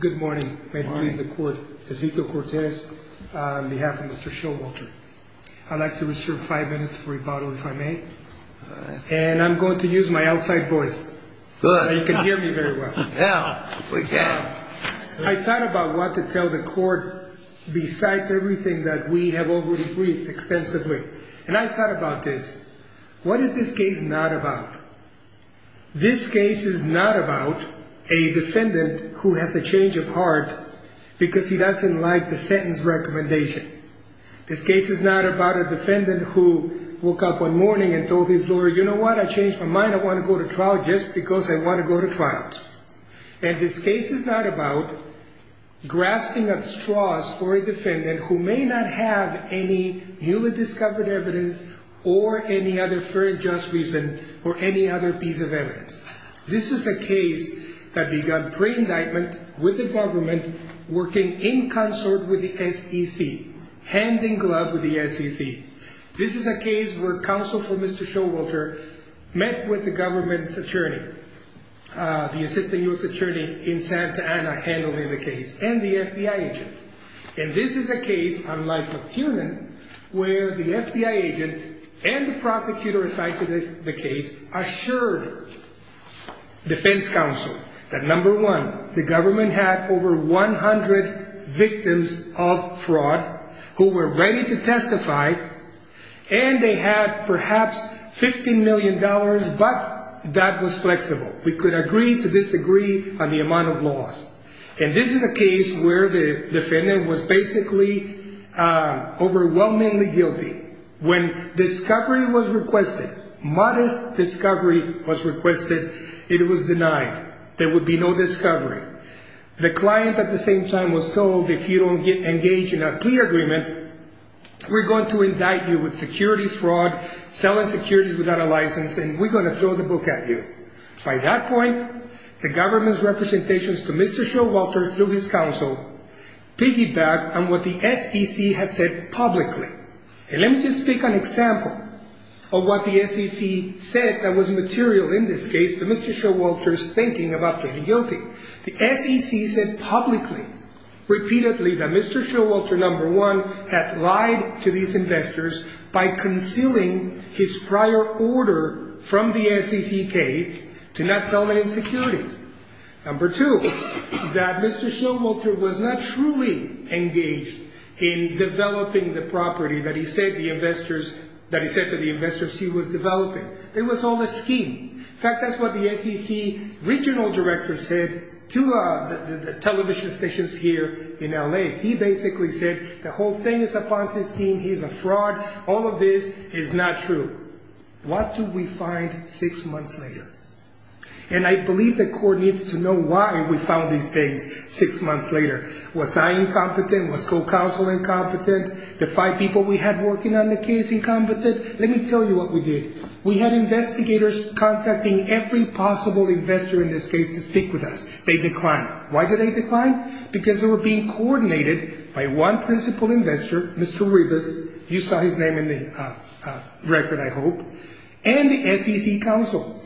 Good morning, may it please the court. Ezekiel Cortez on behalf of Mr. Showalter. I'd like to reserve five minutes for rebuttal if I may. And I'm going to use my outside voice so you can hear me very well. I thought about what to tell the court besides everything that we have already briefed extensively. And I thought about this. What is this case not about? This case is not about a defendant who has a change of heart because he doesn't like the sentence recommendation. This case is not about a defendant who woke up one morning and told his lawyer, you know what, I changed my mind, I want to go to trial just because I want to go to trial. And this case is not about grasping at straws for a defendant who may not have any newly discovered evidence or any other fair and just reason or any other piece of evidence. This is a case that began pre-indictment with the government working in consort with the SEC, hand in glove with the SEC. This is a case where counsel for Mr. Showalter met with the government's attorney, the assistant U.S. attorney in Santa Ana handling the case and the FBI agent. And this is a case, unlike McTiernan, where the FBI agent and the prosecutor assigned to the case assured defense counsel that number one, the government had over 100 victims of fraud who were ready to testify and they had perhaps $15 million, but that was flexible. We could agree to disagree on the amount of loss. And this is a case where the defendant was basically overwhelmingly guilty. When discovery was requested, modest discovery was requested, it was denied. There would be no discovery. The client at the same time was told, if you don't engage in a plea agreement, we're going to indict you with securities fraud, selling securities without a license, and we're going to throw the book at you. By that point, the government's representations to Mr. Showalter through his counsel piggybacked on what the SEC had said publicly. And let me just pick an example of what the SEC said that was material in this case to Mr. Showalter's thinking about being guilty. The SEC said publicly, repeatedly, that Mr. Showalter, number one, had lied to these investors by concealing his prior order from the SEC case to not sell any securities. Number two, that Mr. Showalter was not truly engaged in developing the property that he said to the investors he was developing. It was all a scheme. In fact, that's what the SEC regional director said to the television stations here in L.A. He basically said the whole thing is a Ponzi scheme, he's a fraud, all of this is not true. What do we find six months later? And I believe the court needs to know why we found these things six months later. Was I incompetent? Was co-counsel incompetent? The five people we had working on the case incompetent? Let me tell you what we did. We had investigators contacting every possible investor in this case to speak with us. They declined. Why did they decline? Because they were being coordinated by one principal investor, Mr. Rivas. You saw his name in the record, I hope. And the SEC counsel.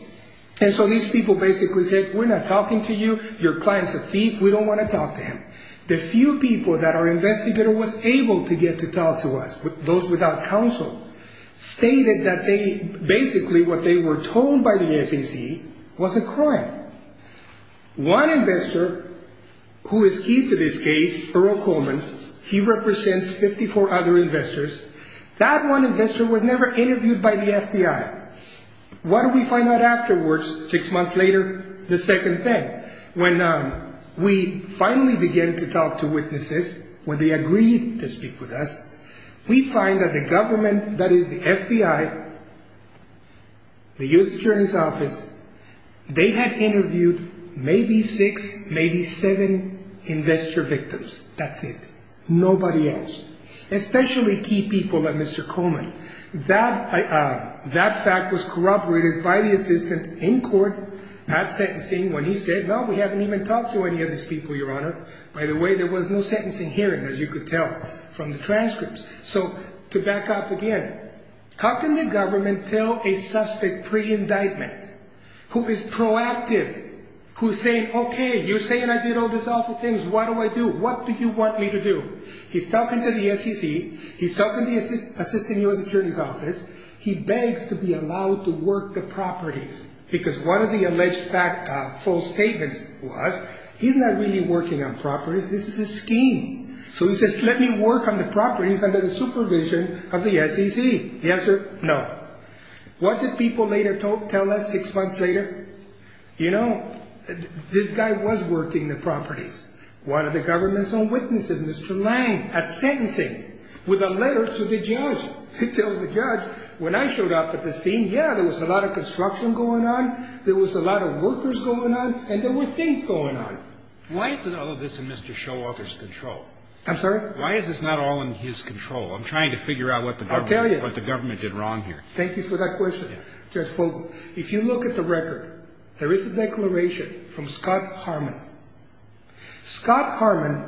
And so these people basically said, we're not talking to you, your client's a thief, we don't want to talk to him. The few people that our investigator was able to get to talk to us, those without counsel, stated that basically what they were told by the SEC was a crime. One investor who is key to this case, Earl Coleman, he represents 54 other investors. That one investor was never interviewed by the FBI. What do we find out afterwards, six months later, the second thing? When we finally began to talk to witnesses, when they agreed to speak with us, we find that the government, that is the FBI, the U.S. Attorney's Office, they had interviewed maybe six, maybe seven investor victims. That's it. Nobody else. Especially key people like Mr. Coleman. That fact was corroborated by the assistant in court at sentencing when he said, no, we haven't even talked to any of these people, your honor. By the way, there was no sentencing hearing, as you could tell from the transcripts. So to back up again, how can the government tell a suspect pre-indictment who is proactive, who's saying, okay, you're saying I did all these awful things, what do I do? What do you want me to do? He's talking to the SEC, he's talking to the Assistant U.S. Attorney's Office, he begs to be allowed to work the properties. Because one of the alleged false statements was, he's not really working on properties, this is a scheme. So he says, let me work on the properties under the supervision of the SEC. The answer, no. What did people later tell us six months later? You know, this guy was working the properties. One of the government's own witnesses, Mr. Lang, at sentencing, with a letter to the judge. He tells the judge, when I showed up at the scene, yeah, there was a lot of construction going on, there was a lot of workers going on, and there were things going on. Why is all of this in Mr. Showalter's control? I'm sorry? Why is this not all in his control? I'm trying to figure out what the government did wrong here. I'll tell you. Thank you for that question, Judge Fogle. If you look at the record, there is a declaration from Scott Harmon. Scott Harmon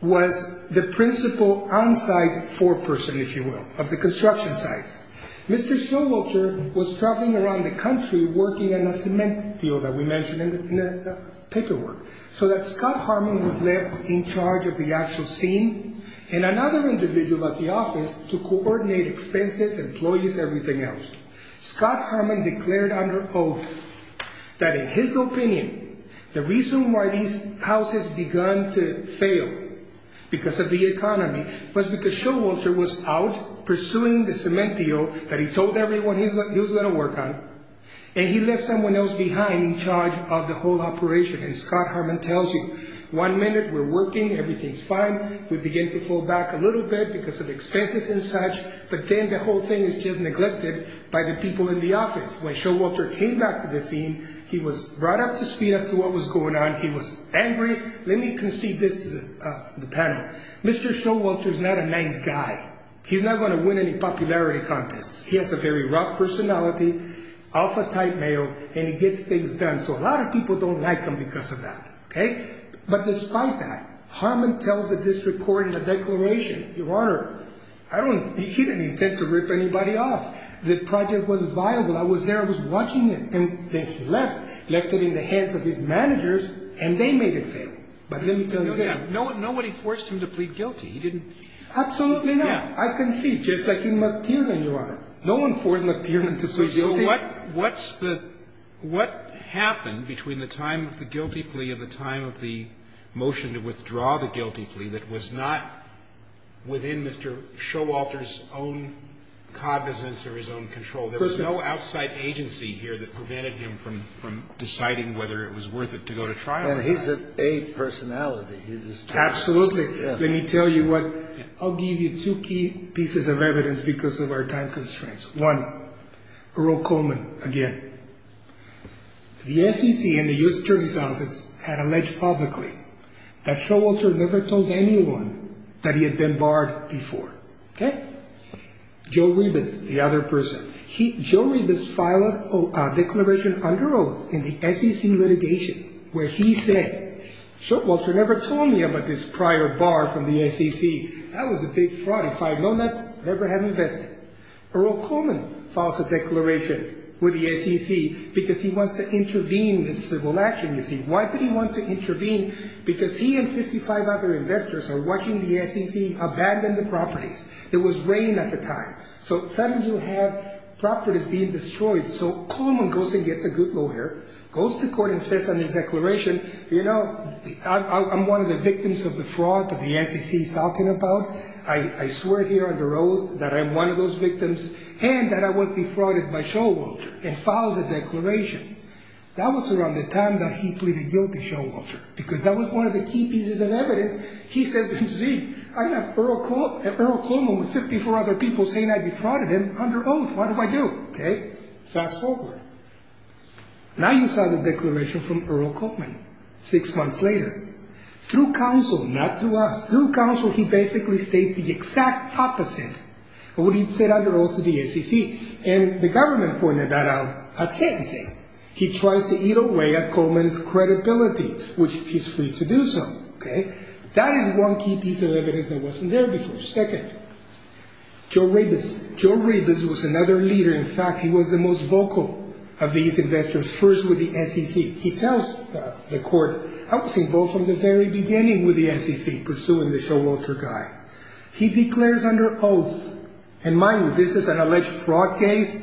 was the principal on-site foreperson, if you will, of the construction sites. Mr. Showalter was traveling around the country working on a cement deal that we mentioned in the paperwork. So that Scott Harmon was left in charge of the actual scene, and another individual at the office to coordinate expenses, employees, everything else. Scott Harmon declared under oath that in his opinion, the reason why these houses begun to fail, because of the economy, was because Showalter was out pursuing the cement deal that he told everyone he was going to work on, and he left someone else behind in charge of the whole operation. And Scott Harmon tells you, one minute we're working, everything's fine, we begin to fall back a little bit because of expenses and such, but then the whole thing is just neglected by the people in the office. When Showalter came back to the scene, he was brought up to speed as to what was going on, he was angry. Let me concede this to the panel. Mr. Showalter is not a nice guy. He's not going to win any popularity contests. He has a very rough personality, alpha type male, and he gets things done. So a lot of people don't like him because of that. But despite that, Harmon tells the district court in a declaration, Your Honor, he didn't intend to rip anybody off. The project was viable. I was there, I was watching it. And then he left, left it in the hands of his managers, and they made it fail. But let me tell you this. Nobody forced him to plead guilty. Absolutely not. I concede, just like in McTiernan, Your Honor. No one forced McTiernan to plead guilty. So what happened between the time of the guilty plea and the time of the motion to withdraw the guilty plea that was not within Mr. Showalter's own cognizance or his own control? There was no outside agency here that prevented him from deciding whether it was worth it to go to trial. And he's an ape personality. Absolutely. Let me tell you what. I'll give you two key pieces of evidence because of our time constraints. One, Earl Coleman, again. The SEC and the U.S. Attorney's Office had alleged publicly that Showalter never told anyone that he had been barred before. Okay? Joe Rebus, the other person. Joe Rebus filed a declaration under oath in the SEC litigation where he said, Showalter never told me about this prior bar from the SEC. That was a big fraud. If I had known that, I never had invested. Earl Coleman files a declaration with the SEC because he wants to intervene in civil action, you see. Why did he want to intervene? Because he and 55 other investors are watching the SEC abandon the properties. There was rain at the time. So suddenly you have properties being destroyed. So Coleman goes and gets a good lawyer, goes to court and says on his declaration, you know, I'm one of the victims of the fraud that the SEC is talking about. I swear here under oath that I'm one of those victims and that I was defrauded by Showalter and files a declaration. That was around the time that he pleaded guilty, Showalter, because that was one of the key pieces of evidence. He says, you see, I have Earl Coleman with 54 other people saying I defrauded him under oath. What do I do? Okay? Fast forward. Now you saw the declaration from Earl Coleman six months later. Through counsel, not through us, through counsel he basically states the exact opposite of what he said under oath to the SEC. And the government pointed that out at sentencing. He tries to eat away at Coleman's credibility, which he's free to do so. Okay? That is one key piece of evidence that wasn't there before. Second, Joe Ribas. Joe Ribas was another leader. In fact, he was the most vocal of these investors, first with the SEC. He tells the court, I was involved from the very beginning with the SEC, pursuing the Showalter guy. He declares under oath, and mind you, this is an alleged fraud case,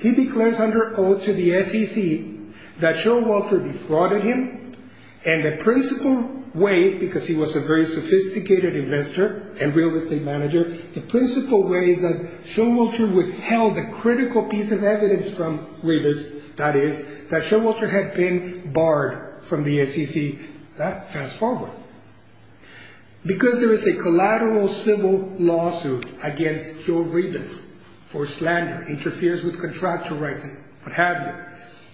he declares under oath to the SEC that Showalter defrauded him. And the principal way, because he was a very sophisticated investor and real estate manager, the principal way is that Showalter withheld a critical piece of evidence from Ribas, that is, that Showalter had been barred from the SEC. Fast forward. Because there is a collateral civil lawsuit against Joe Ribas for slander, interferes with contractual rights, what have you,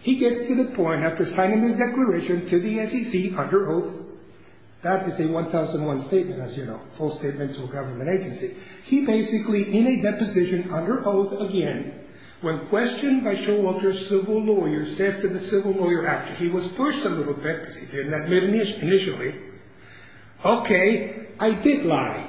he gets to the point after signing his declaration to the SEC under oath, that is a 1001 statement, as you know, full statement to a government agency. He basically, in a deposition under oath again, when questioned by Showalter's civil lawyer, says to the civil lawyer after he was pushed a little bit, because he didn't admit initially, okay, I did lie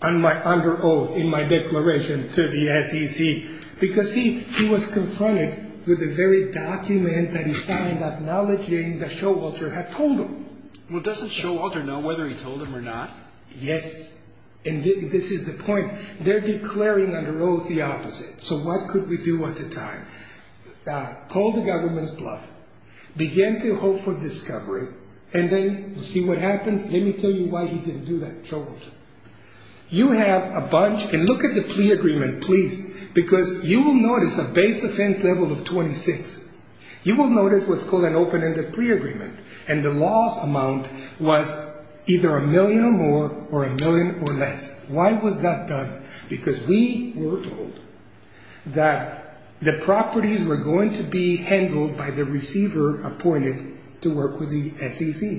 under oath in my declaration to the SEC. Because, see, he was confronted with the very document that he signed acknowledging that Showalter had told him. Well, doesn't Showalter know whether he told him or not? Yes, and this is the point. They're declaring under oath the opposite. So what could we do at the time? Call the government's bluff. Begin to hope for discovery, and then see what happens. Let me tell you why he didn't do that, Showalter. You have a bunch, and look at the plea agreement, please, because you will notice a base offense level of 26. You will notice what's called an open-ended plea agreement, and the loss amount was either a million or more or a million or less. Why was that done? Because we were told that the properties were going to be handled by the receiver appointed to work with the SEC.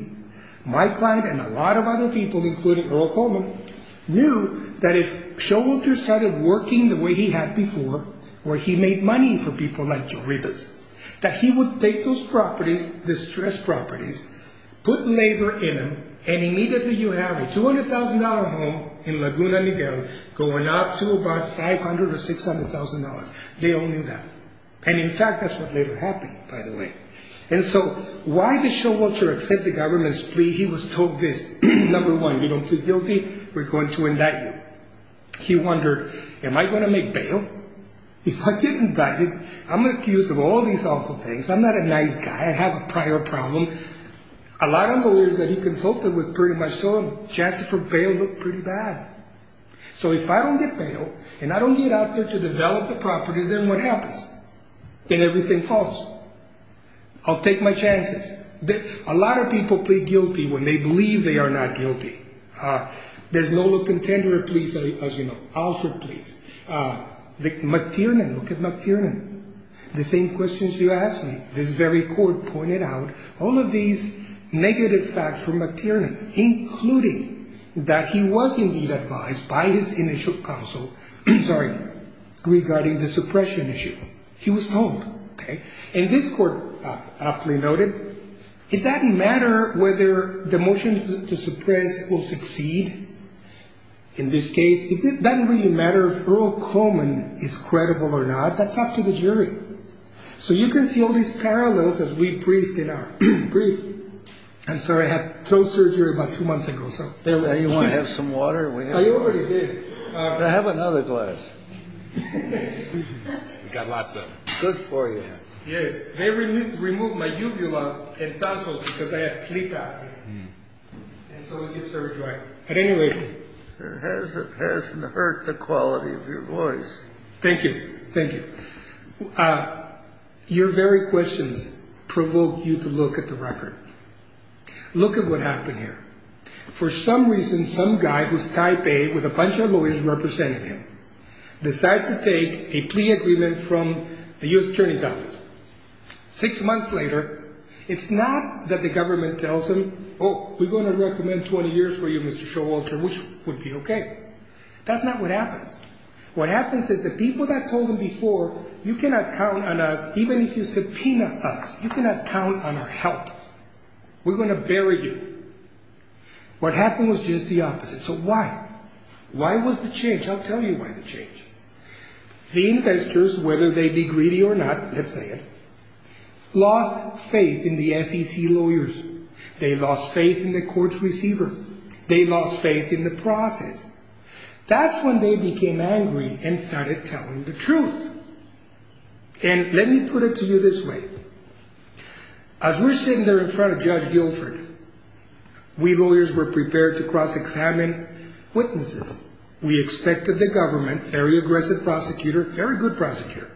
My client and a lot of other people, including Earl Coleman, knew that if Showalter started working the way he had before, where he made money for people like Joe Ribas, that he would take those properties, distressed properties, put labor in them, and immediately you have a $200,000 home in Laguna Miguel going up to about $500,000 or $600,000. They all knew that. And, in fact, that's what later happened, by the way. And so why did Showalter accept the government's plea? He was told this. Number one, we don't feel guilty. We're going to indict you. He wondered, am I going to make bail? If I get indicted, I'm accused of all these awful things. I'm not a nice guy. I have a prior problem. A lot of lawyers that he consulted with pretty much told him, Jasper, bail looked pretty bad. So if I don't get bail and I don't get out there to develop the properties, then what happens? Then everything falls. I'll take my chances. A lot of people plead guilty when they believe they are not guilty. There's no looking tender, please, as you know. Alfred, please. McTiernan, look at McTiernan. The same questions you asked me. This very court pointed out all of these negative facts from McTiernan, including that he was indeed advised by his initial counsel, sorry, regarding the suppression issue. He was told, okay? And this court aptly noted, it doesn't matter whether the motions to suppress will succeed. In this case, it doesn't really matter if Earl Coleman is credible or not. That's up to the jury. So you can see all these parallels as we briefed it out. I'm sorry. I had toe surgery about two months ago. You want to have some water? I already did. Have another glass. We've got lots of them. Good for you. Yes. They removed my uvula and tonsils because I had sleep apnea. And so it gets very dry. But anyway. It hasn't hurt the quality of your voice. Thank you. Thank you. Your very questions provoke you to look at the record. Look at what happened here. For some reason, some guy who's type A with a bunch of lawyers representing him decides to take a plea agreement from the U.S. Attorney's Office. Six months later, it's not that the government tells him, oh, we're going to recommend 20 years for you, Mr. Showalter, which would be okay. That's not what happens. What happens is the people that told him before, you cannot count on us, even if you subpoena us, you cannot count on our help. We're going to bury you. What happened was just the opposite. So why? Why was the change? I'll tell you why the change. The investors, whether they be greedy or not, let's say it, lost faith in the SEC lawyers. They lost faith in the court's receiver. They lost faith in the process. That's when they became angry and started telling the truth. And let me put it to you this way. As we're sitting there in front of Judge Guilford, we lawyers were prepared to cross-examine witnesses. We expected the government, very aggressive prosecutor, very good prosecutor,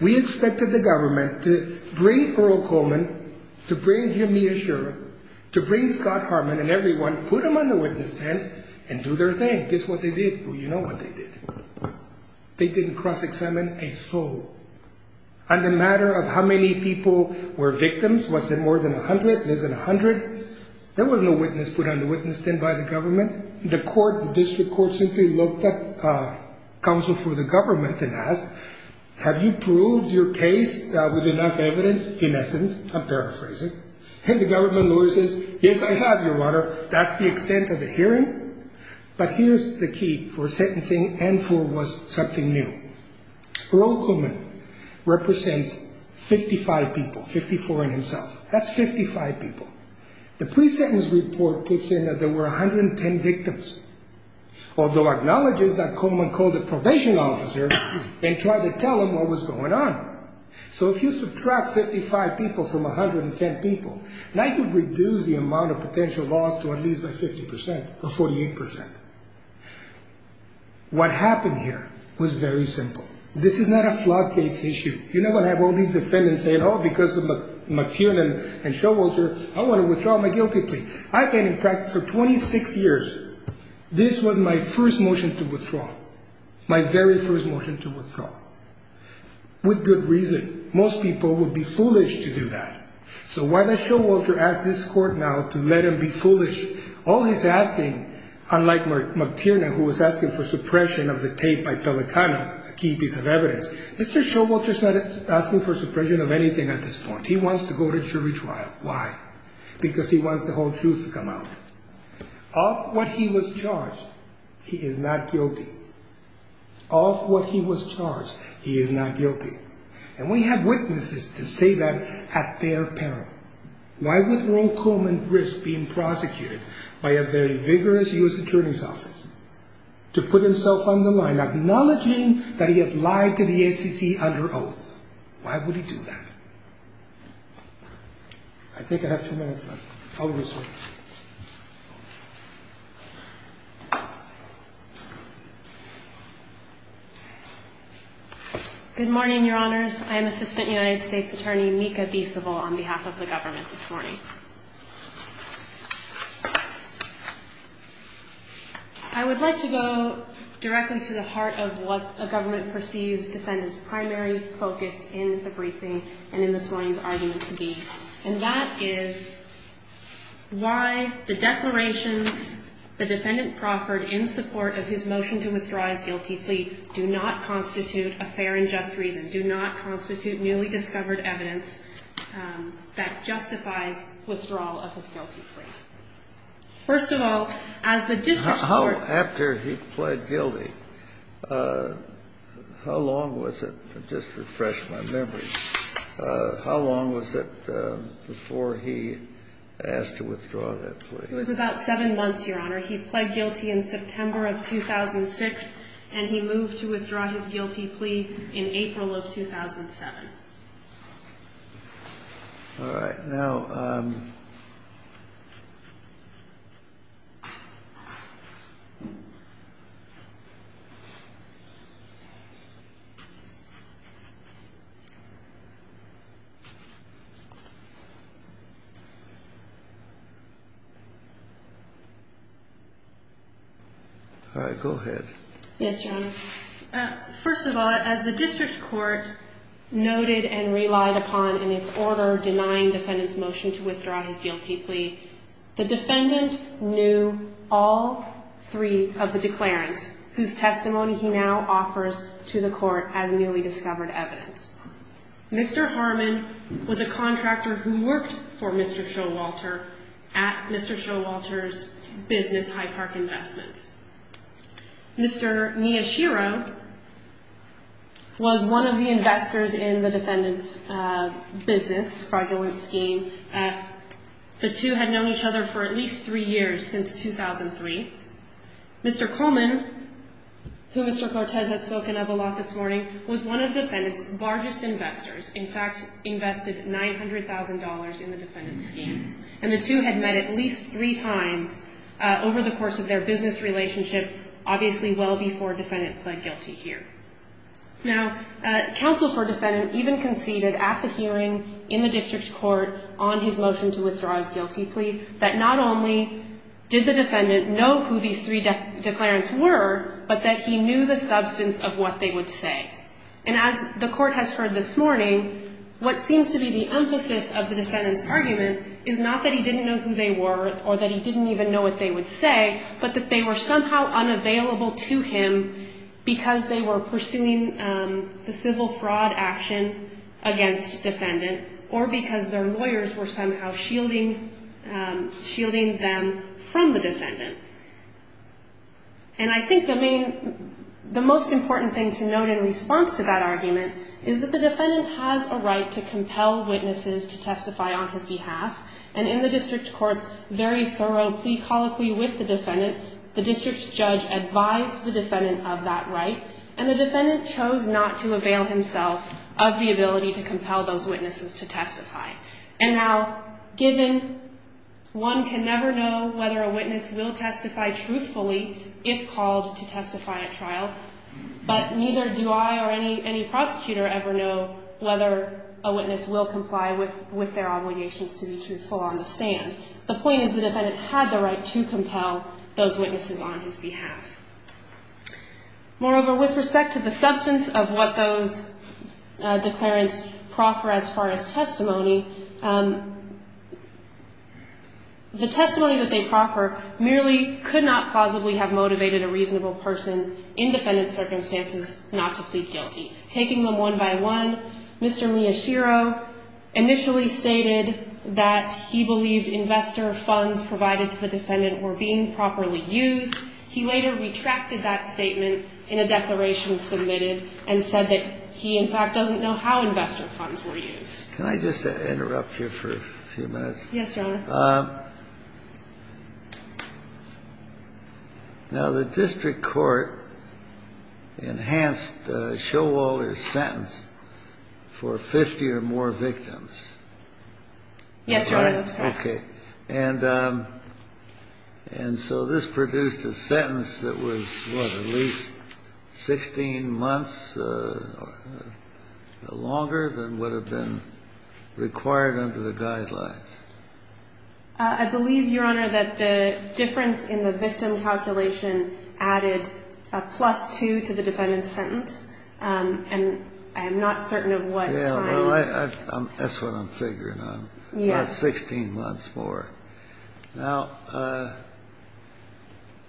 we expected the government to bring Earl Coleman, to bring Jamia Sherman, to bring Scott Harmon and everyone, put them on the witness stand and do their thing. This is what they did. Well, you know what they did. They didn't cross-examine a soul. On the matter of how many people were victims, was it more than 100, less than 100, there was no witness put on the witness stand by the government. The court, the district court, simply looked at counsel for the government and asked, have you proved your case with enough evidence? In essence, I'm paraphrasing. And the government lawyer says, yes, I have, Your Honor. That's the extent of the hearing. But here's the key for sentencing and for what's something new. Earl Coleman represents 55 people, 54 in himself. That's 55 people. The pre-sentence report puts in that there were 110 victims, although acknowledges that Coleman called the probation officer and tried to tell him what was going on. So if you subtract 55 people from 110 people, that would reduce the amount of potential loss to at least by 50% or 48%. What happened here was very simple. This is not a flood case issue. You're not going to have all these defendants saying, oh, because of McCune and Showalter, I want to withdraw my guilty plea. I've been in practice for 26 years. This was my first motion to withdraw, my very first motion to withdraw, with good reason. Most people would be foolish to do that. So why does Showalter ask this court now to let him be foolish? All he's asking, unlike McTiernan, who was asking for suppression of the tape by Pelicano, a key piece of evidence, Mr. Showalter's not asking for suppression of anything at this point. He wants to go to jury trial. Why? Because he wants the whole truth to come out. Of what he was charged, he is not guilty. Of what he was charged, he is not guilty. And we have witnesses to say that at their peril. Why would Earl Coleman risk being prosecuted by a very vigorous U.S. attorney's office to put himself on the line, acknowledging that he had lied to the SEC under oath? Why would he do that? I think I have two minutes left. I'll resume. Good morning, Your Honors. I am Assistant United States Attorney Mika B. Civil on behalf of the government this morning. I would like to go directly to the heart of what a government perceives defendants' primary focus in the briefing and in this morning's argument to be. And that is why the declarations the defendant proffered in support of his motion to withdraw his guilty plea do not constitute a fair and just reason, do not constitute newly discovered evidence that justifies withdrawal of his guilty plea. First of all, as the district court ---- All right. Now ---- All right. Go ahead. Yes, Your Honor. First of all, as the district court noted and relied upon in its order denying defendant's motion to withdraw his guilty plea, the defendant knew all three of the declarants whose testimony he now offers to the court as newly discovered evidence. Mr. Harmon was a contractor who worked for Mr. Showalter at Mr. Showalter's business Hyde Park Investments. Mr. Miyashiro was one of the investors in the defendant's business, fraudulent scheme. The two had known each other for at least three years since 2003. Mr. Coleman, who Mr. Cortez has spoken of a lot this morning, was one of the defendant's largest investors, in fact, invested $900,000 in the defendant's scheme. And the two had met at least three times over the course of their business relationship, obviously well before defendant pled guilty here. Now, counsel for defendant even conceded at the hearing in the district court on his three declarants were, but that he knew the substance of what they would say. And as the court has heard this morning, what seems to be the emphasis of the defendant's argument is not that he didn't know who they were or that he didn't even know what they would say, but that they were somehow unavailable to him because they were pursuing the civil fraud action against defendant or because their lawyers were somehow shielding them from the defendant. And I think the most important thing to note in response to that argument is that the defendant has a right to compel witnesses to testify on his behalf. And in the district court's very thorough plea colloquy with the defendant, the district judge advised the defendant of that right, and the defendant chose not to avail himself of the ability to compel those witnesses to testify. And now, given one can never know whether a witness will testify truthfully if called to testify at trial, but neither do I or any prosecutor ever know whether a witness will comply with their obligations to be truthful on the stand. The point is the defendant had the right to compel those witnesses on his behalf. Moreover, with respect to the substance of what those declarants proffer as far as testimony, the testimony that they proffer merely could not plausibly have motivated a reasonable person in defendant's circumstances not to plead guilty. Taking them one by one, Mr. Miyashiro initially stated that he believed investor funds provided to the defendant were being properly used. He later retracted that statement in a declaration submitted and said that he, in fact, doesn't know how investor funds were used. Can I just interrupt you for a few minutes? Yes, Your Honor. Now, the district court enhanced Showalter's sentence for 50 or more victims. Yes, Your Honor. Okay. And so this produced a sentence that was, what, at least 16 months longer than would have been required under the guidelines? I believe, Your Honor, that the difference in the victim calculation added a plus two to the defendant's sentence, and I am not certain of what time. Yeah, well, that's what I'm figuring on. Yes. About 16 months more. Now,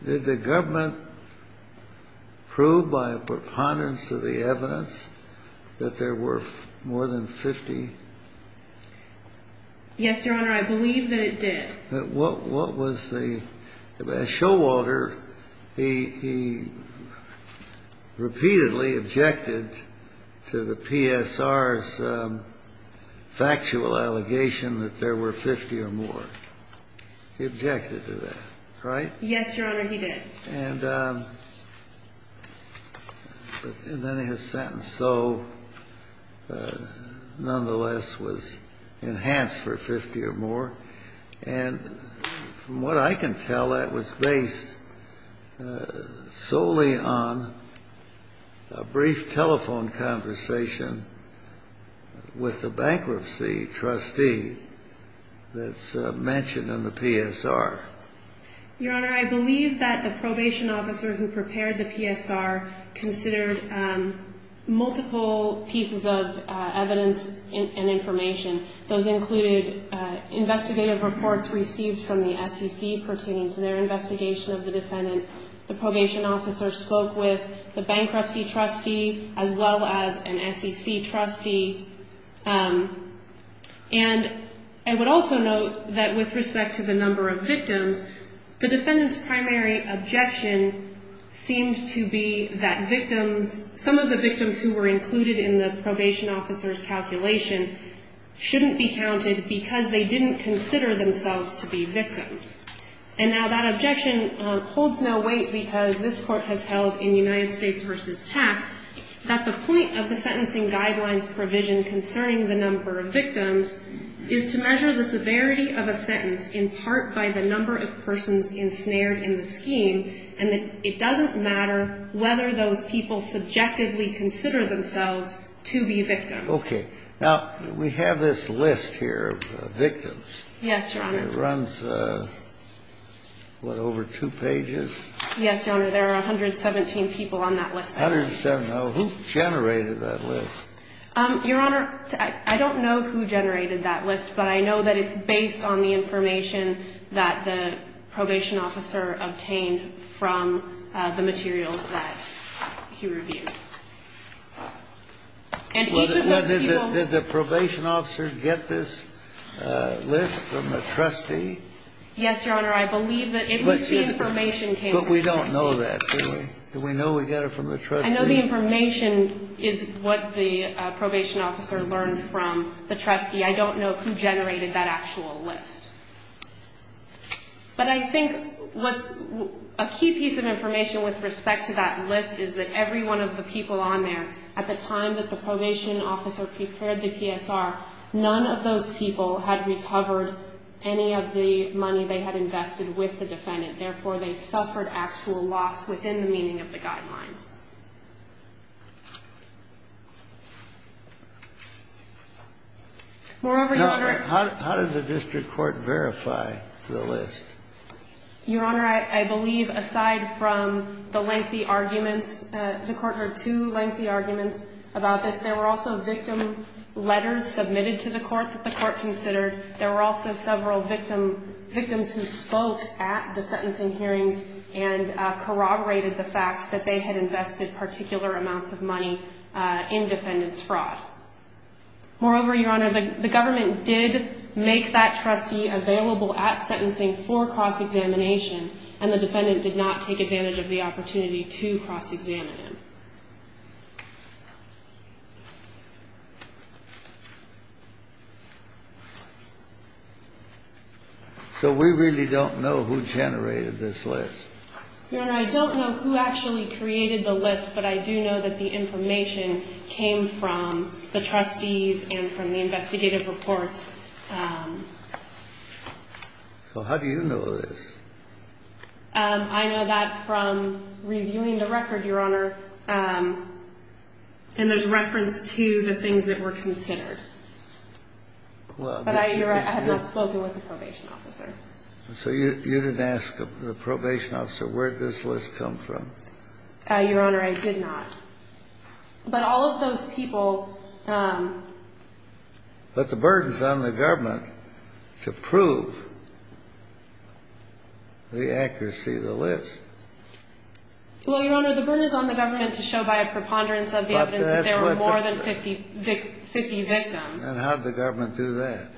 did the government prove by a preponderance of the evidence that there were more than 50? Yes, Your Honor, I believe that it did. What was the ñ Showalter, he repeatedly objected to the PSR's factual allegation that there were 50 or more. He objected to that, right? Yes, Your Honor, he did. And then his sentence, though, nonetheless, was enhanced for 50 or more. And from what I can tell, that was based solely on a brief telephone conversation with the bankruptcy trustee that's mentioned in the PSR. Your Honor, I believe that the probation officer who prepared the PSR considered multiple pieces of evidence and information. Those included investigative reports received from the SEC pertaining to their investigation of the defendant. The probation officer spoke with the bankruptcy trustee as well as an SEC trustee. And I would also note that with respect to the number of victims, the defendant's primary objection seemed to be that victims, some of the victims who were included in the probation officer's calculation, shouldn't be counted because they didn't consider themselves to be victims. And now that objection holds no weight because this Court has held in United States v. TAP that the point of the sentencing guidelines provision concerning the number of victims is to measure the severity of a sentence in part by the number of persons ensnared in the scheme and that it doesn't matter whether those people subjectively consider themselves to be victims. Okay. Now, we have this list here of victims. Yes, Your Honor. It runs, what, over two pages? Yes, Your Honor. There are 117 people on that list. 117. Now, who generated that list? Your Honor, I don't know who generated that list, but I know that it's based on the information that the probation officer obtained from the materials that he reviewed. Well, did the probation officer get this list from the trustee? Yes, Your Honor. I believe that at least the information came from the trustee. But we don't know that, do we? Do we know we got it from the trustee? I know the information is what the probation officer learned from the trustee. I don't know who generated that actual list. But I think what's a key piece of information with respect to that list is that every one of the people on there, at the time that the probation officer prepared the PSR, none of those people had recovered any of the money they had invested with the defendant. Therefore, they suffered actual loss within the meaning of the guidelines. Moreover, Your Honor. How did the district court verify the list? Your Honor, I believe aside from the lengthy arguments, the court heard two lengthy arguments about this. There were also victim letters submitted to the court that the court considered. There were also several victims who spoke at the sentencing hearings and corroborated the fact that they had invested particular amounts of money in defendant's fraud. Moreover, Your Honor, the government did make that trustee available at sentencing for cross-examination, and the defendant did not take advantage of the opportunity to cross-examine him. So we really don't know who generated this list? Your Honor, I don't know who actually created the list, but I do know that the information came from the trustees and from the investigative reports. So how do you know this? I know that from reviewing the record, Your Honor, and there's reference to the things that were considered. But I have not spoken with the probation officer. So you didn't ask the probation officer, where did this list come from? Your Honor, I did not. But all of those people ---- But the burden is on the government to prove the accuracy of the list. Well, Your Honor, the burden is on the government to show by a preponderance of the evidence that there were more than 50 victims. And how did the government do that?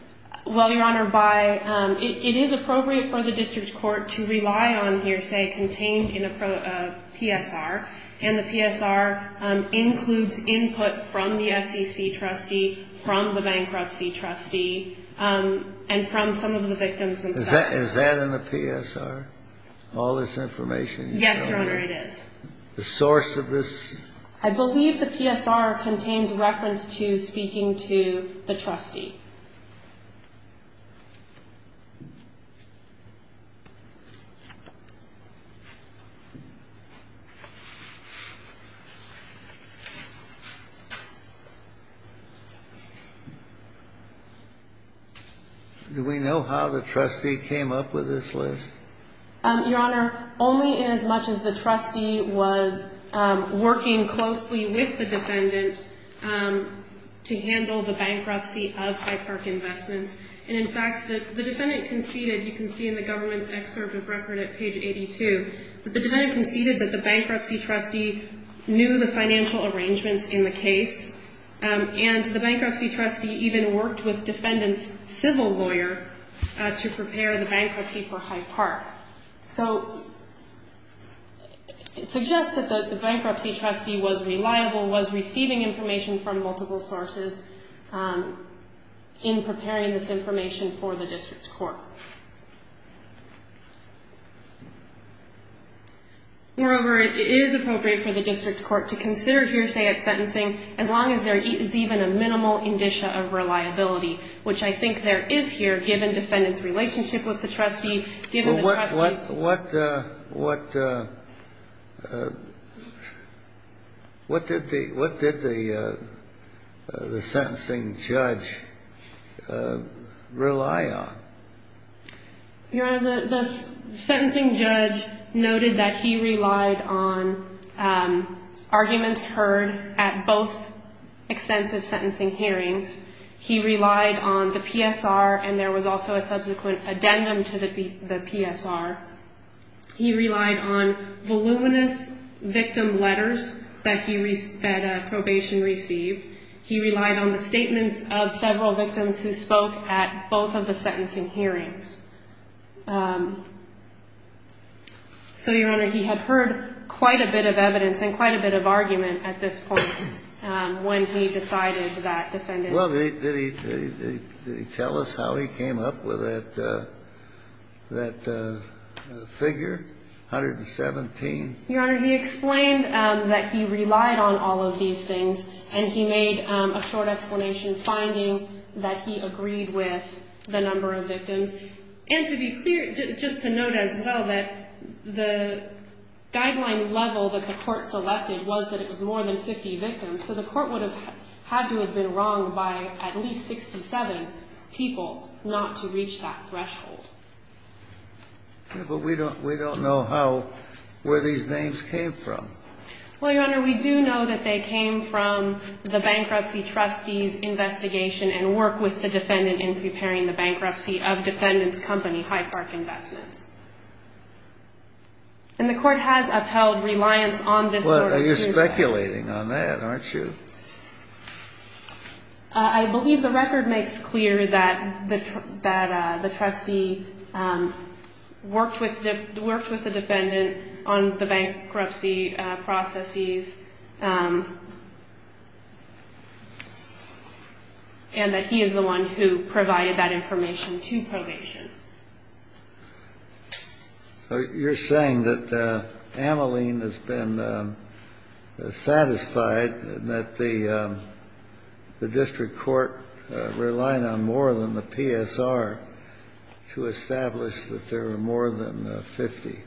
Well, Your Honor, by ---- it is appropriate for the district court to rely on hearsay contained in a PSR. And the PSR includes input from the SEC trustee, from the bankruptcy trustee, and from some of the victims themselves. Is that in the PSR, all this information? Yes, Your Honor, it is. The source of this? I believe the PSR contains reference to speaking to the trustee. Do we know how the trustee came up with this list? Your Honor, only in as much as the trustee was working closely with the defendant to handle the bankruptcy of Hyde Park Investments. And, in fact, the defendant conceded, you can see in the government's excerpt of record at page 82, that the defendant conceded that the bankruptcy trustee knew the financial arrangements in the case. And the bankruptcy trustee even worked with the defendant's civil lawyer to prepare the bankruptcy for Hyde Park. So it suggests that the bankruptcy trustee was reliable, was receiving information from multiple sources in preparing this information for the district court. Moreover, it is appropriate for the district court to consider hearsay at sentencing as long as there is even a minimal indicia of reliability, which I think there is here given defendant's relationship with the trustee, given the trustee's ---- Your Honor, the sentencing judge noted that he relied on arguments heard at both extensive sentencing hearings. He relied on the PSR, and there was also a subsequent addendum to the PSR. He relied on voluminous victim letters that probation received. He relied on the statements of several victims who spoke at both of the sentencing hearings. So, Your Honor, he had heard quite a bit of evidence and quite a bit of argument at this point when he decided that defendant ---- Well, did he tell us how he came up with that figure, 117? Your Honor, he explained that he relied on all of these things, and he made a short explanation finding that he agreed with the number of victims. And to be clear, just to note as well that the guideline level that the court selected was that it was more than 50 victims. So the court would have had to have been wronged by at least 67 people not to reach that threshold. But we don't know how ---- where these names came from. Well, Your Honor, we do know that they came from the bankruptcy trustee's investigation and work with the defendant in preparing the bankruptcy of defendant's company, Hyde Park Investments. And the court has upheld reliance on this sort of ---- Well, you're speculating on that, aren't you? I believe the record makes clear that the trustee worked with the defendant on the bankruptcy processes and that he is the one who provided that information to probation. So you're saying that Ameline has been satisfied and that the district court relied on more than the PSR to establish that there were more than 50.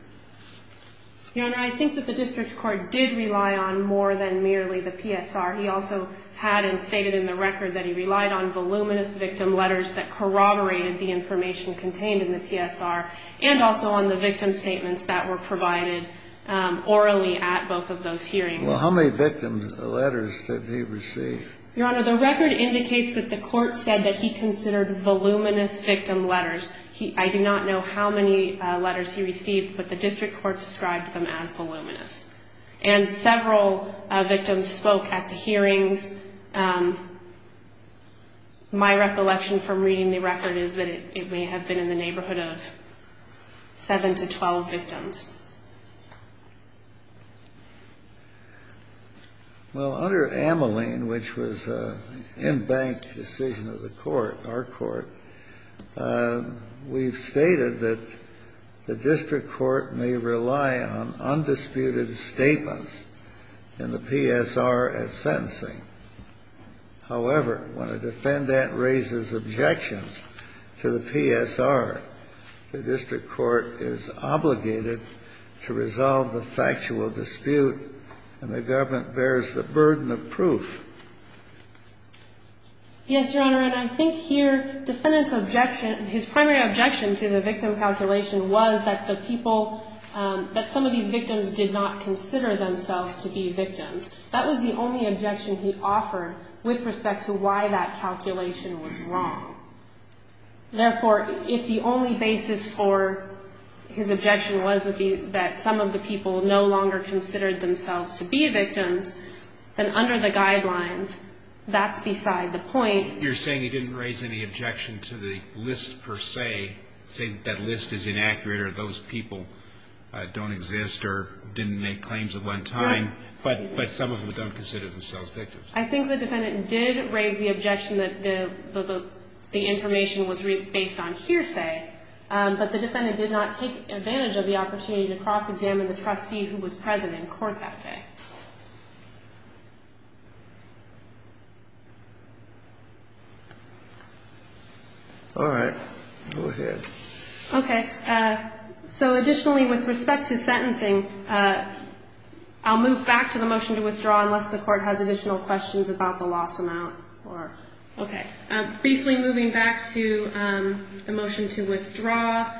Your Honor, I think that the district court did rely on more than merely the PSR. He also had and stated in the record that he relied on voluminous victim letters that corroborated the information contained in the PSR and also on the victim statements that were provided orally at both of those hearings. Well, how many victim letters did he receive? Your Honor, the record indicates that the court said that he considered voluminous victim letters. I do not know how many letters he received, but the district court described them as voluminous. And several victims spoke at the hearings. My recollection from reading the record is that it may have been in the neighborhood of 7 to 12 victims. Well, under Ameline, which was an in-bank decision of the court, our court, we've stated that the district court may rely on undisputed statements in the PSR at sentencing. However, when a defendant raises objections to the PSR, the district court is obligated to resolve the factual dispute, and the government bears the burden of proof. Yes, Your Honor. And I think here defendant's objection, his primary objection to the victim calculation was that the people, that some of these victims did not consider themselves to be victims. That was the only objection he offered with respect to why that calculation was wrong. Therefore, if the only basis for his objection was that some of the people no longer considered themselves to be victims, then under the guidelines, that's beside the point. You're saying he didn't raise any objection to the list per se, say that list is inaccurate or those people don't exist or didn't make claims at one time. Right. But some of them don't consider themselves victims. I think the defendant did raise the objection that the information was based on hearsay, but the defendant did not take advantage of the opportunity to cross-examine the trustee who was present in court that day. All right. Go ahead. Okay. So additionally, with respect to sentencing, I'll move back to the motion to withdraw unless the court has additional questions about the loss amount. Okay. Briefly moving back to the motion to withdraw,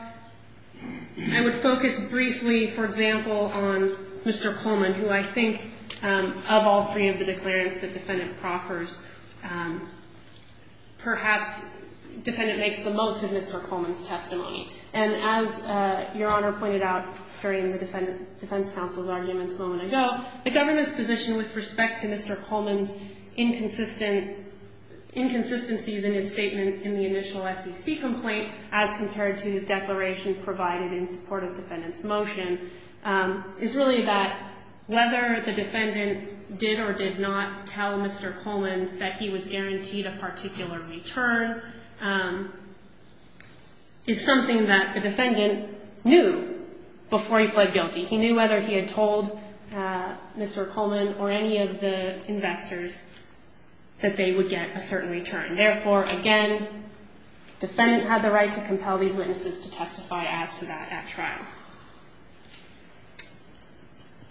I would focus briefly, for example, on Mr. Coleman, who I think of all three of the declarants the defendant proffers, perhaps the defendant makes the most of Mr. Coleman's testimony. And as Your Honor pointed out during the defense counsel's arguments a moment ago, the government's position with respect to Mr. Coleman's inconsistencies in his statement in the initial SEC complaint as compared to his declaration provided in support of defendant's motion is really that whether the defendant did or did not tell Mr. Coleman that he was guaranteed a particular return is something that the defendant knew before he pled guilty. He knew whether he had told Mr. Coleman or any of the investors that they would get a certain return. Therefore, again, defendant had the right to compel these witnesses to testify as to that at trial.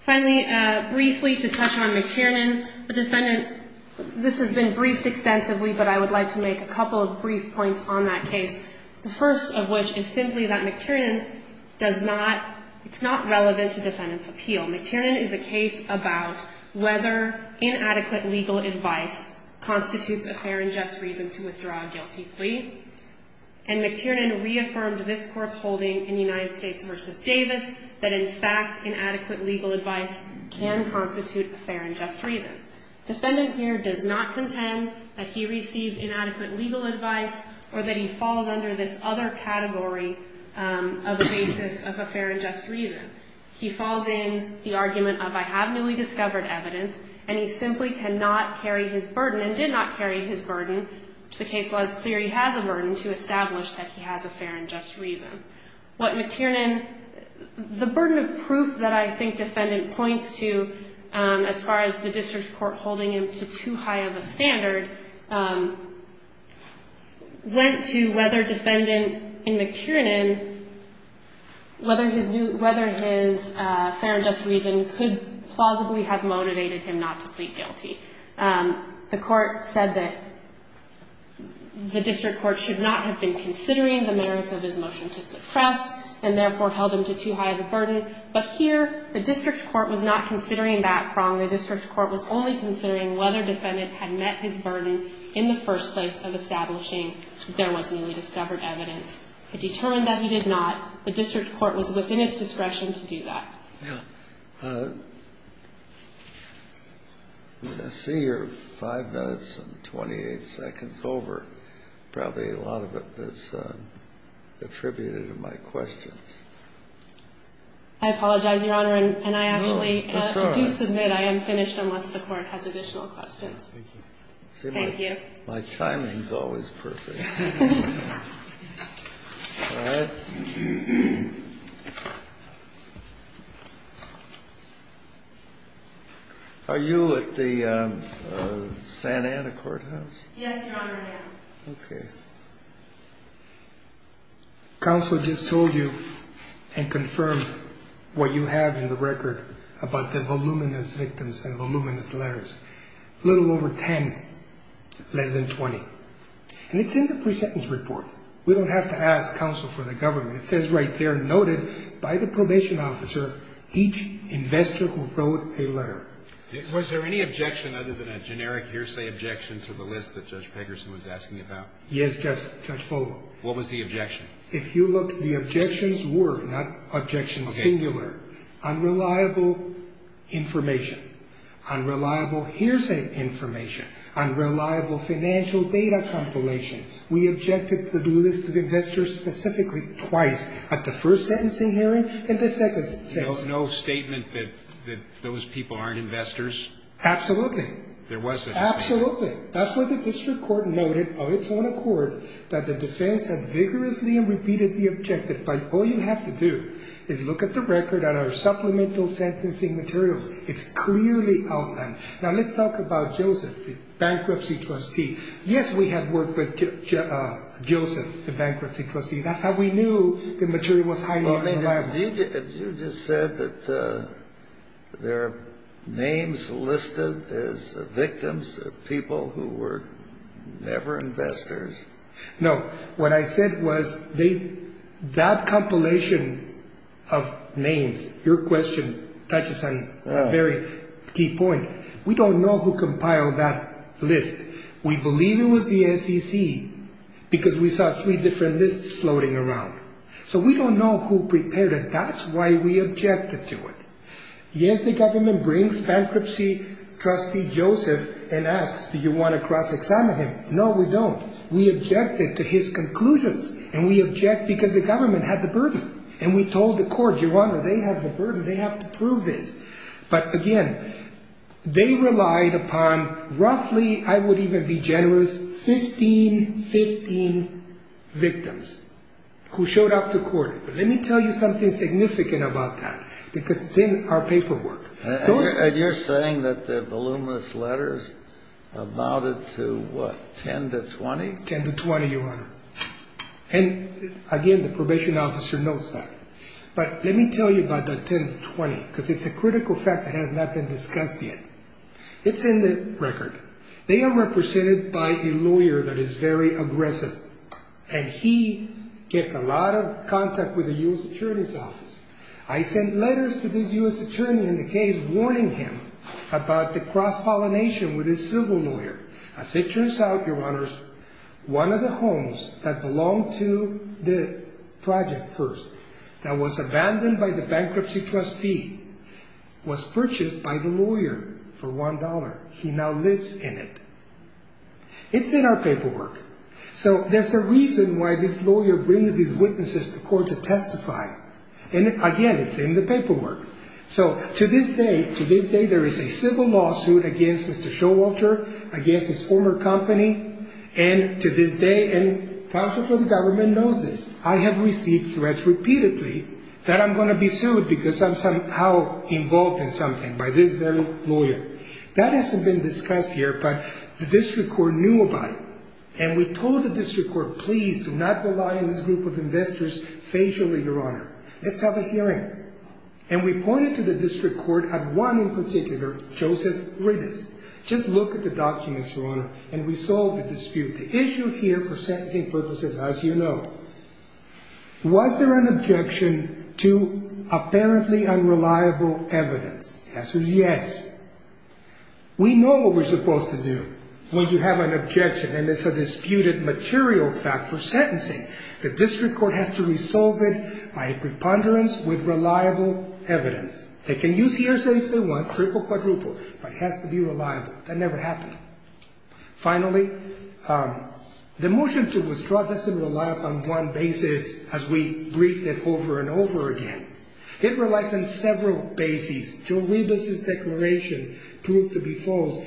Finally, briefly to touch on McTiernan, the defendant, this has been briefed extensively, but I would like to make a couple of brief points on that case, the first of which is simply that McTiernan does not, it's not relevant to defendant's appeal. McTiernan is a case about whether inadequate legal advice constitutes a fair and just reason to withdraw a guilty plea, and McTiernan reaffirmed this court's holding in United States v. Davis that in fact inadequate legal advice can constitute a fair and just reason. Defendant here does not contend that he received inadequate legal advice or that he falls under this other category of a basis of a fair and just reason. He falls in the argument of I have newly discovered evidence, and he simply cannot carry his burden and did not carry his burden, which the case law is clear he has a burden, to establish that he has a fair and just reason. What McTiernan, the burden of proof that I think defendant points to as far as the district court holding him to too high of a standard, went to whether defendant in McTiernan, whether his fair and just reason could plausibly have motivated him not to plead guilty. The court said that the district court should not have been considering the merits of his motion to suppress and therefore held him to too high of a burden, but here the district court was not considering that wrong. The district court was only considering whether defendant had met his burden in the first place of establishing there was newly discovered evidence. It determined that he did not. The district court was within its discretion to do that. Yeah. I see you're 5 minutes and 28 seconds over. Probably a lot of it is attributed to my questions. I apologize, Your Honor, and I actually do submit. I am finished unless the court has additional questions. Thank you. My timing is always perfect. Are you at the Santa Ana courthouse? Yes, Your Honor, I am. Okay. Counsel just told you and confirmed what you have in the record about the voluminous victims and voluminous letters. A little over 10, less than 20. And it's in the presentence report. We don't have to ask counsel for the government. It says right there, noted by the probation officer, each investor who wrote a letter. Was there any objection other than a generic hearsay objection to the list that Judge Pegerson was asking about? Yes, Judge Fogel. What was the objection? If you look, the objections were, not objections singular, unreliable information, unreliable hearsay information, unreliable financial data compilation. We objected to the list of investors specifically twice, at the first sentencing hearing and the second sentencing hearing. No statement that those people aren't investors? Absolutely. There wasn't? Absolutely. That's why the district court noted of its own accord that the defense had vigorously and repeatedly objected. All you have to do is look at the record and our supplemental sentencing materials. It's clearly outlined. Now let's talk about Joseph, the bankruptcy trustee. Yes, we had worked with Joseph, the bankruptcy trustee. That's how we knew the material was highly reliable. Have you just said that there are names listed as victims, people who were never investors? No. What I said was that compilation of names, your question touches on a very key point. We don't know who compiled that list. We believe it was the SEC because we saw three different lists floating around. So we don't know who prepared it. That's why we objected to it. Yes, the government brings bankruptcy trustee Joseph and asks, do you want to cross-examine him? No, we don't. We objected to his conclusions and we object because the government had the burden. And we told the court, Your Honor, they have the burden. They have to prove this. But again, they relied upon roughly, I would even be generous, 15, 15 victims who showed up to court. But let me tell you something significant about that because it's in our paperwork. And you're saying that the voluminous letters amounted to, what, 10 to 20? 10 to 20, Your Honor. And again, the probation officer notes that. But let me tell you about the 10 to 20 because it's a critical fact that has not been discussed yet. It's in the record. They are represented by a lawyer that is very aggressive. And he kept a lot of contact with the U.S. Attorney's Office. I sent letters to this U.S. Attorney in the case warning him about the cross-pollination with his civil lawyer. As it turns out, Your Honors, one of the homes that belonged to the project first that was abandoned by the bankruptcy trustee was purchased by the lawyer for $1. He now lives in it. It's in our paperwork. So there's a reason why this lawyer brings these witnesses to court to testify. And again, it's in the paperwork. So to this day, to this day, there is a civil lawsuit against Mr. Showalter, against his former company, and to this day, and counsel for the government knows this, I have received threats repeatedly that I'm going to be sued because I'm somehow involved in something by this very lawyer. That hasn't been discussed here, but the district court knew about it. And we told the district court, please do not rely on this group of investors facially, Your Honor. Let's have a hearing. And we pointed to the district court at one in particular, Joseph Riddes. Just look at the documents, Your Honor. And we solved the dispute. The issue here for sentencing purposes, as you know, was there an objection to apparently unreliable evidence? The answer is yes. We know what we're supposed to do when you have an objection, and it's a disputed material fact for sentencing. The district court has to resolve it by a preponderance with reliable evidence. They can use hearsay if they want, triple, quadruple, but it has to be reliable. That never happened. Finally, the motion to withdraw doesn't rely upon one basis as we briefed it over and over again. It relies on several bases. Joe Riddes' declaration proved to be false.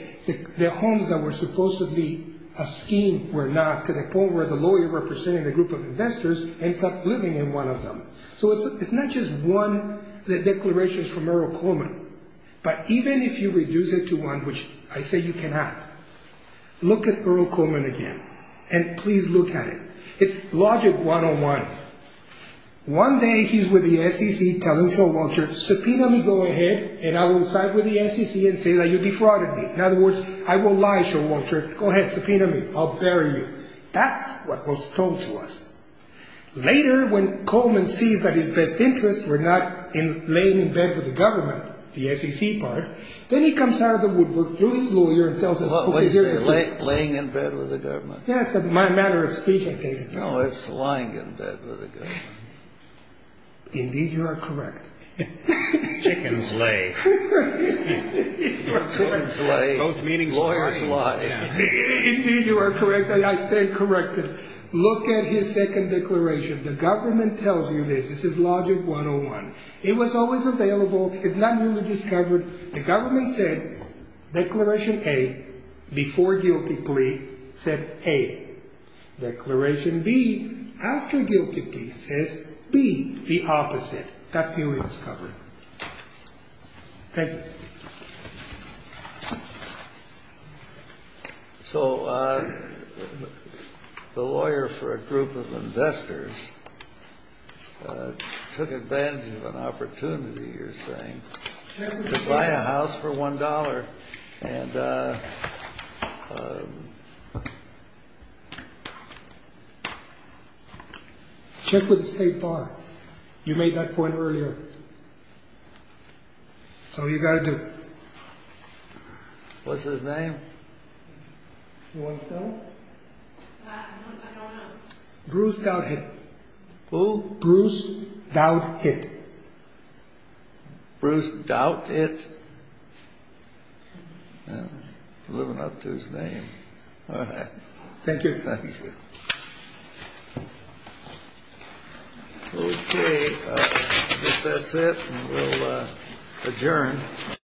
The homes that were supposedly a scheme were not, to the point where the lawyer representing the group of investors ends up living in one of them. So it's not just one of the declarations from Merrill Coleman, but even if you reduce it to one, which I say you cannot, look at Merrill Coleman again. And please look at it. It's logic one-on-one. One day he's with the SEC telling Sean Walters, subpoena me, go ahead, and I will side with the SEC and say that you defrauded me. In other words, I won't lie, Sean Walters. Go ahead, subpoena me, I'll bury you. That's what was told to us. Later, when Coleman sees that his best interests were not laying in bed with the government, the SEC part, then he comes out of the woodwork, through his lawyer, and tells us who he is. What did you say? Laying in bed with the government? Yeah, it's a matter of speech, I take it. No, it's lying in bed with the government. Indeed, you are correct. Chickens lay. Chickens lay. Both meanings lie. Lawyers lie. Indeed, you are correct. I stand corrected. Look at his second declaration. The government tells you this. This is logic 101. It was always available. It's not newly discovered. The government said declaration A, before guilty plea, said A. Declaration B, after guilty plea, says B, the opposite. That's newly discovered. Thank you. So the lawyer for a group of investors took advantage of an opportunity, you're saying, to buy a house for $1. Check with the State Bar. You made that point earlier. Oh, you got to do it. What's his name? You want to tell him? I don't know. Bruce Douthit. Who? Bruce Douthit. Bruce Douthit? I'm living up to his name. All right. Thank you. Thank you. Okay. I guess that's it. We'll adjourn.